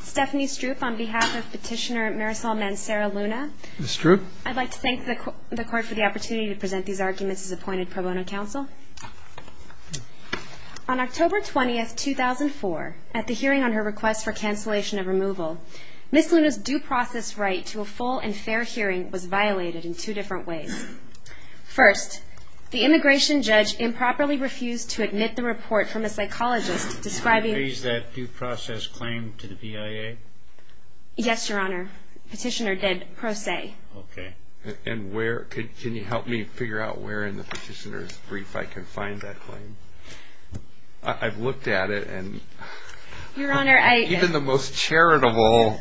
Stephanie Stroop on behalf of petitioner Marisol Mancera Luna. Ms. Stroop. I'd like to thank the court for the opportunity to present these arguments as appointed pro bono counsel. On October 20, 2004, at the hearing on her request for cancellation of removal, Ms. Luna's due process right to a full and fair hearing was violated in two different ways. First, the immigration judge improperly refused to admit the report from a psychologist describing that due process claim to the BIA. Yes, Your Honor. Petitioner did pro se. Okay. And where? Can you help me figure out where in the petitioner's brief I can find that claim? I've looked at it, and even the most charitable,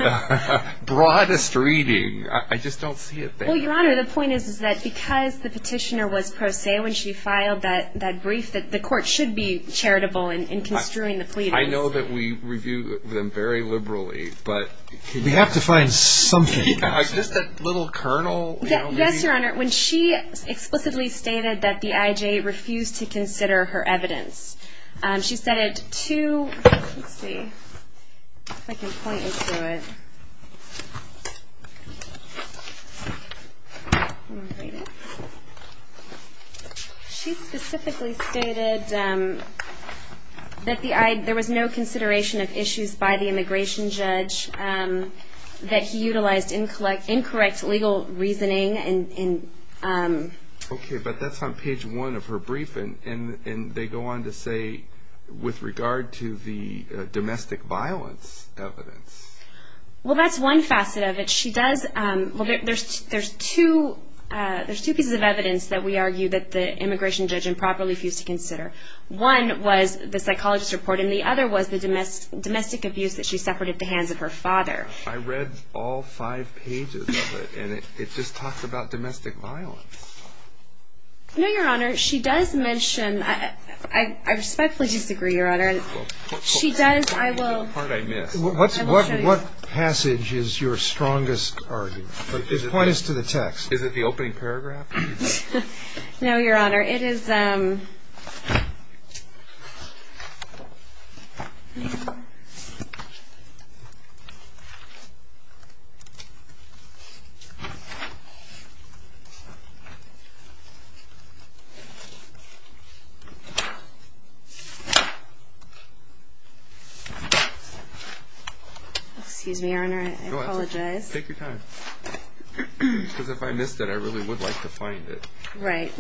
broadest reading, I just don't see it there. Well, Your Honor, the point is that because the petitioner was pro se when she filed that brief, the court should be charitable in construing the pleadings. I know that we review them very liberally, but we have to find something. Is this that little kernel? Yes, Your Honor. When she explicitly stated that the IJ refused to consider her evidence, she said it to, let's see if I can point into it. She specifically stated that there was no consideration of issues by the immigration judge, that he utilized incorrect legal reasoning. Okay, but that's on page one of her brief, and they go on to say, with regard to the domestic violence evidence. Well, that's one facet of it. There's two pieces of evidence that we argue that the immigration judge improperly refused to consider. One was the psychologist's report, and the other was the domestic abuse that she suffered at the hands of her father. I read all five pages of it, and it just talks about domestic violence. No, Your Honor, she does mention, I respectfully disagree, Your Honor. She does. I will show you. What passage is your strongest argument? Point us to the text. Is it the opening paragraph? No, Your Honor. Excuse me, Your Honor, I apologize. Take your time, because if I missed it, I really would like to find it. Right.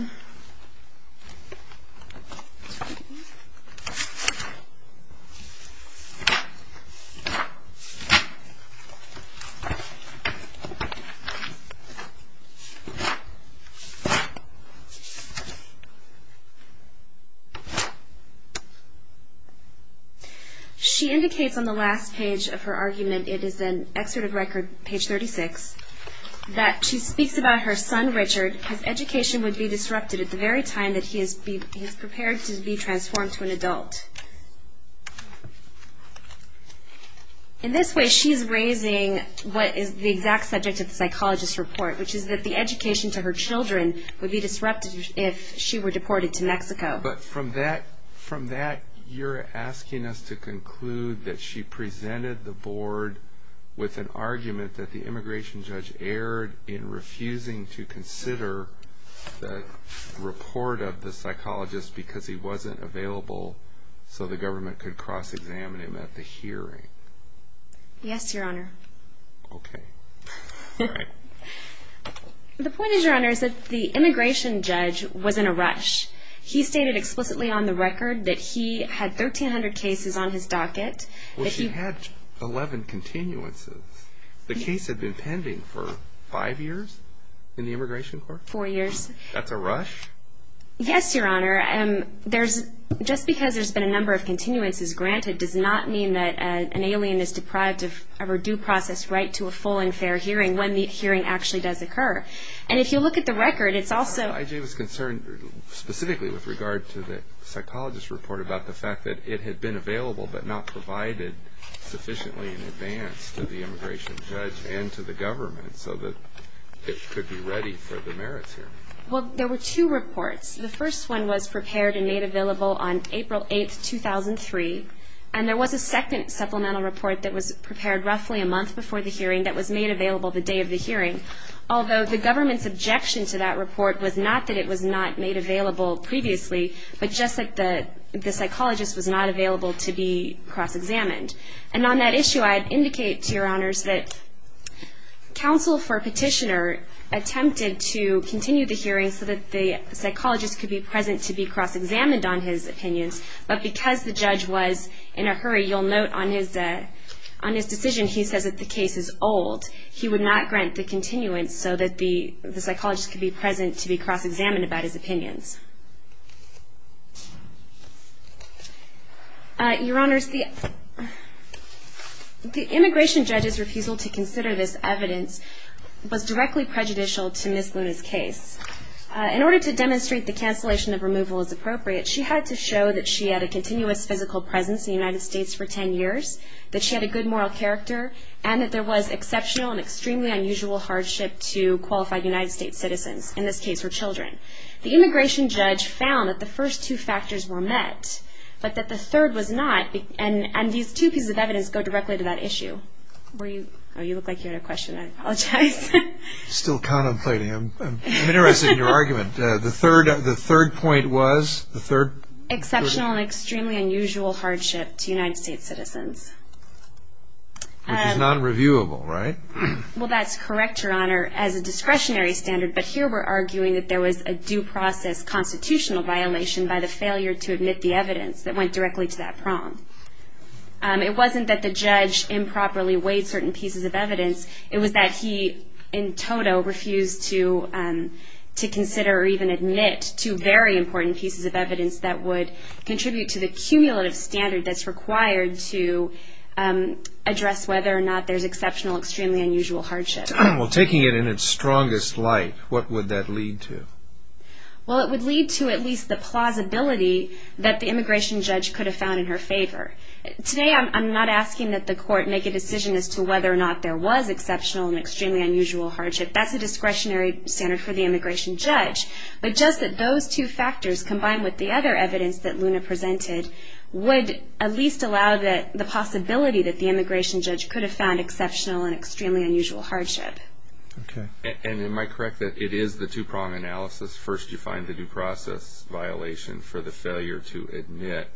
She indicates on the last page of her argument, it is in Excerpt of Record, page 36, that she speaks about her son, Richard. His education would be disrupted at the very time that he is prepared to be transformed to an adult. In this way, she is raising what is the exact subject of the psychologist's report, which is that the education to her children would be disrupted if she were deported to Mexico. But from that, you're asking us to conclude that she presented the board with an argument that the immigration judge erred in refusing to consider the report of the psychologist because he wasn't available so the government could cross-examine him at the hearing. Yes, Your Honor. All right. The point is, Your Honor, is that the immigration judge was in a rush. He stated explicitly on the record that he had 1,300 cases on his docket. Well, she had 11 continuances. The case had been pending for five years in the immigration court? Four years. That's a rush? Yes, Your Honor. Just because there's been a number of continuances granted does not mean that an alien is deprived of her due process right to a full and fair hearing when the hearing actually does occur. And if you look at the record, it's also… specifically with regard to the psychologist's report about the fact that it had been available but not provided sufficiently in advance to the immigration judge and to the government so that it could be ready for the merits hearing. Well, there were two reports. The first one was prepared and made available on April 8, 2003, and there was a second supplemental report that was prepared roughly a month before the hearing that was made available the day of the hearing, although the government's objection to that report was not that it was not made available previously but just that the psychologist was not available to be cross-examined. And on that issue, I'd indicate to Your Honors that counsel for petitioner attempted to continue the hearing so that the psychologist could be present to be cross-examined on his opinions, but because the judge was in a hurry, you'll note on his decision he says that the case is old. He would not grant the continuance so that the psychologist could be present to be cross-examined about his opinions. Your Honors, the immigration judge's refusal to consider this evidence was directly prejudicial to Ms. Luna's case. In order to demonstrate the cancellation of removal as appropriate, she had to show that she had a continuous physical presence in the United States for 10 years, that she had a good moral character, and that there was exceptional and extremely unusual hardship to qualified United States citizens, in this case her children. The immigration judge found that the first two factors were met but that the third was not, and these two pieces of evidence go directly to that issue. Oh, you look like you had a question. I apologize. Still contemplating. I'm interested in your argument. The third point was? Exceptional and extremely unusual hardship to United States citizens. Which is non-reviewable, right? Well, that's correct, Your Honor, as a discretionary standard, but here we're arguing that there was a due process constitutional violation by the failure to admit the evidence that went directly to that prong. It wasn't that the judge improperly weighed certain pieces of evidence, it was that he in toto refused to consider or even admit two very important pieces of evidence that would contribute to the cumulative standard that's required to address whether or not there's exceptional, extremely unusual hardship. Well, taking it in its strongest light, what would that lead to? Well, it would lead to at least the plausibility that the immigration judge could have found in her favor. Today, I'm not asking that the court make a decision as to whether or not there was exceptional and extremely unusual hardship. That's a discretionary standard for the immigration judge, but just that those two factors combined with the other evidence that Luna presented would at least allow the possibility that the immigration judge could have found exceptional and extremely unusual hardship. Okay. And am I correct that it is the two-prong analysis? First, you find the due process violation for the failure to admit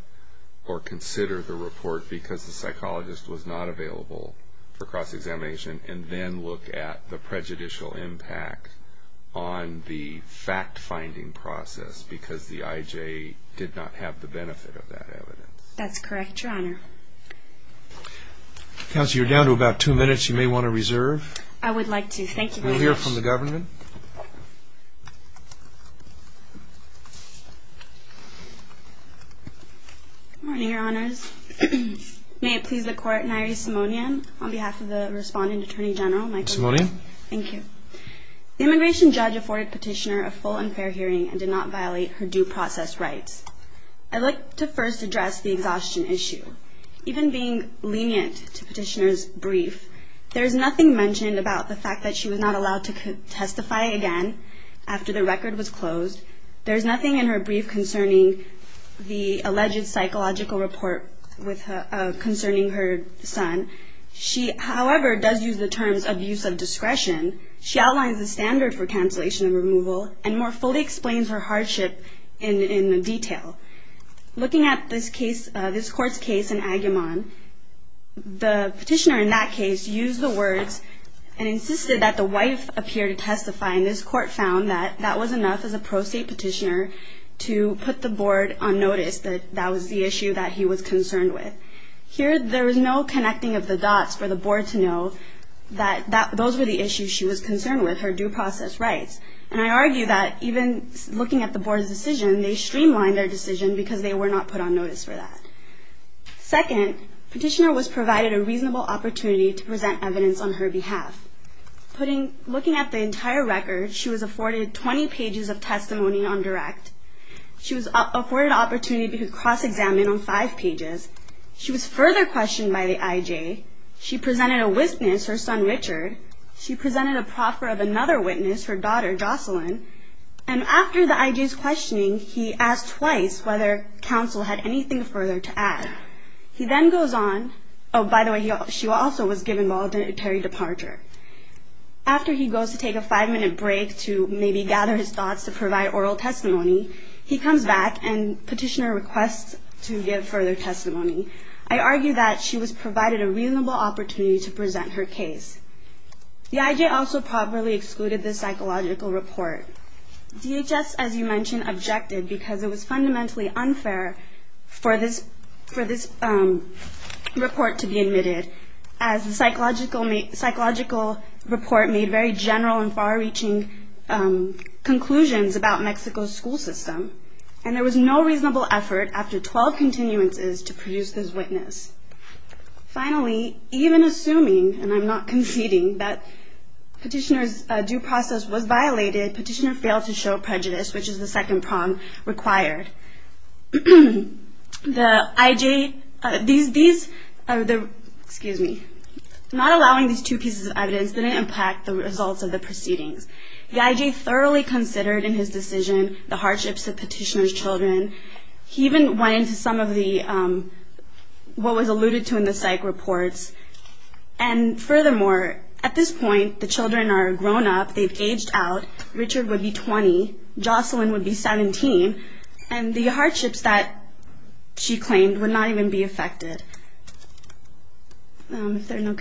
or consider the report because the psychologist was not available for cross-examination, and then look at the prejudicial impact on the fact-finding process because the IJ did not have the benefit of that evidence? That's correct, Your Honor. Counsel, you're down to about two minutes. You may want to reserve. I would like to. Thank you very much. And we'll hear from the governor. Good morning, Your Honors. May it please the Court, Nyree Simonian, on behalf of the responding Attorney General, Michael Simonian. Thank you. The immigration judge afforded Petitioner a full and fair hearing and did not violate her due process rights. I'd like to first address the exhaustion issue. Even being lenient to Petitioner's brief, there is nothing mentioned about the fact that she was not allowed to testify again after the record was closed. There is nothing in her brief concerning the alleged psychological report concerning her son. She, however, does use the terms of use of discretion. She outlines the standard for cancellation and removal and more fully explains her hardship in detail. Looking at this Court's case in Agamemnon, the Petitioner in that case used the words and insisted that the wife appear to testify, and this Court found that that was enough as a pro se Petitioner to put the Board on notice that that was the issue that he was concerned with. Here, there was no connecting of the dots for the Board to know that those were the issues she was concerned with, her due process rights. And I argue that even looking at the Board's decision, they streamlined their decision because they were not put on notice for that. Second, Petitioner was provided a reasonable opportunity to present evidence on her behalf. Looking at the entire record, she was afforded 20 pages of testimony on direct. She was afforded an opportunity to cross-examine on five pages. She was further questioned by the IJ. She presented a witness, her son Richard. She presented a proffer of another witness, her daughter Jocelyn. And after the IJ's questioning, he asked twice whether counsel had anything further to add. He then goes on. Oh, by the way, she also was given voluntary departure. After he goes to take a five-minute break to maybe gather his thoughts to provide oral testimony, he comes back and Petitioner requests to give further testimony. I argue that she was provided a reasonable opportunity to present her case. The IJ also properly excluded this psychological report. DHS, as you mentioned, objected because it was fundamentally unfair for this report to be admitted as the psychological report made very general and far-reaching conclusions about Mexico's school system. And there was no reasonable effort, after 12 continuances, to produce this witness. Finally, even assuming, and I'm not conceding, that Petitioner's due process was violated, Petitioner failed to show prejudice, which is the second prong required. The IJ, these, excuse me, not allowing these two pieces of evidence didn't impact the results of the proceedings. The IJ thoroughly considered in his decision the hardships of Petitioner's children. He even went into some of the, what was alluded to in the psych reports. And furthermore, at this point, the children are grown up. They've aged out. Richard would be 20. Jocelyn would be 17. And the hardships that she claimed would not even be affected. If there are no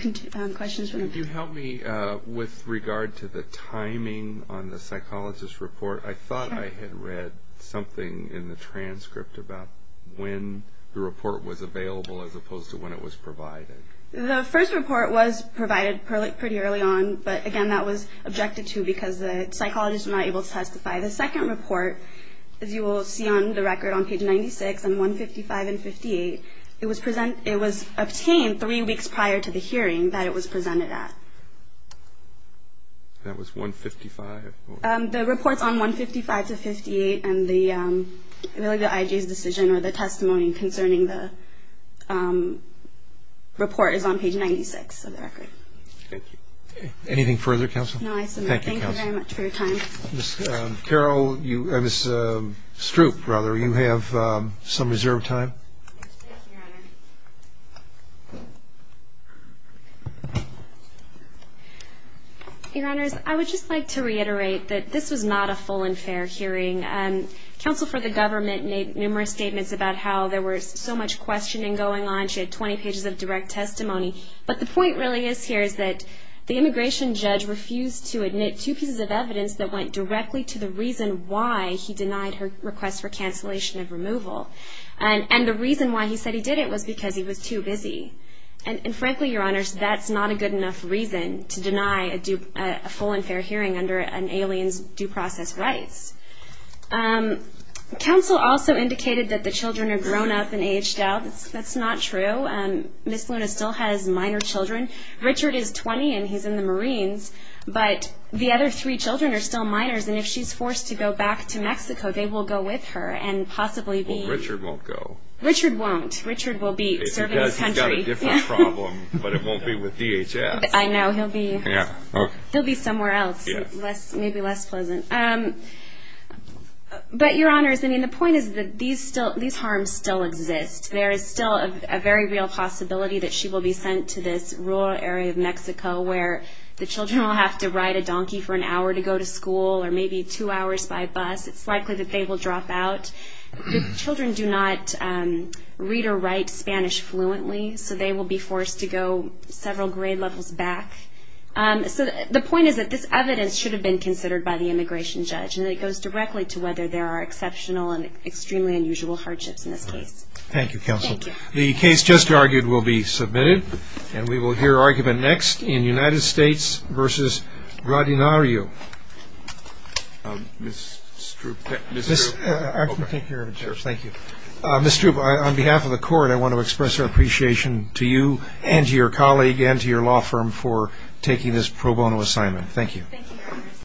questions. Could you help me with regard to the timing on the psychologist report? I thought I had read something in the transcript about when the report was available as opposed to when it was provided. The first report was provided pretty early on. But, again, that was objected to because the psychologist was not able to testify. The second report, as you will see on the record on page 96, on 155 and 58, it was obtained three weeks prior to the hearing that it was presented at. That was 155? The reports on 155 to 58 and the IG's decision or the testimony concerning the report is on page 96 of the record. Thank you. Anything further, Counsel? No, I submit. Thank you very much for your time. Ms. Stroop, you have some reserved time. Thank you, Your Honor. Your Honors, I would just like to reiterate that this was not a full and fair hearing. Counsel for the government made numerous statements about how there was so much questioning going on. She had 20 pages of direct testimony. But the point really is here is that the immigration judge refused to admit two pieces of evidence that went directly to the reason why he denied her request for cancellation of removal. And the reason why he said he did it was because he was too busy. And, frankly, Your Honors, that's not a good enough reason to deny a full and fair hearing under an alien's due process rights. Counsel also indicated that the children are grown up and aged out. That's not true. Ms. Luna still has minor children. Richard is 20, and he's in the Marines. But the other three children are still minors. And if she's forced to go back to Mexico, they will go with her and possibly be... Well, Richard won't go. Richard won't. Richard will be serving his country. He's got a different problem, but it won't be with DHS. I know. He'll be somewhere else, maybe less pleasant. But, Your Honors, I mean, the point is that these harms still exist. There is still a very real possibility that she will be sent to this rural area of Mexico where the children will have to ride a donkey for an hour to go to school or maybe two hours by bus. It's likely that they will drop out. The children do not read or write Spanish fluently, so they will be forced to go several grade levels back. The point is that this evidence should have been considered by the immigration judge, and it goes directly to whether there are exceptional and extremely unusual hardships in this case. Thank you, Counsel. Thank you. The case just argued will be submitted, and we will hear argument next in United States v. Rodinario. Ms. Stroop. I can take care of it, sir. Thank you. Ms. Stroop, on behalf of the Court, I want to express our appreciation to you and to your colleague and to your law firm for taking this pro bono assignment. Thank you.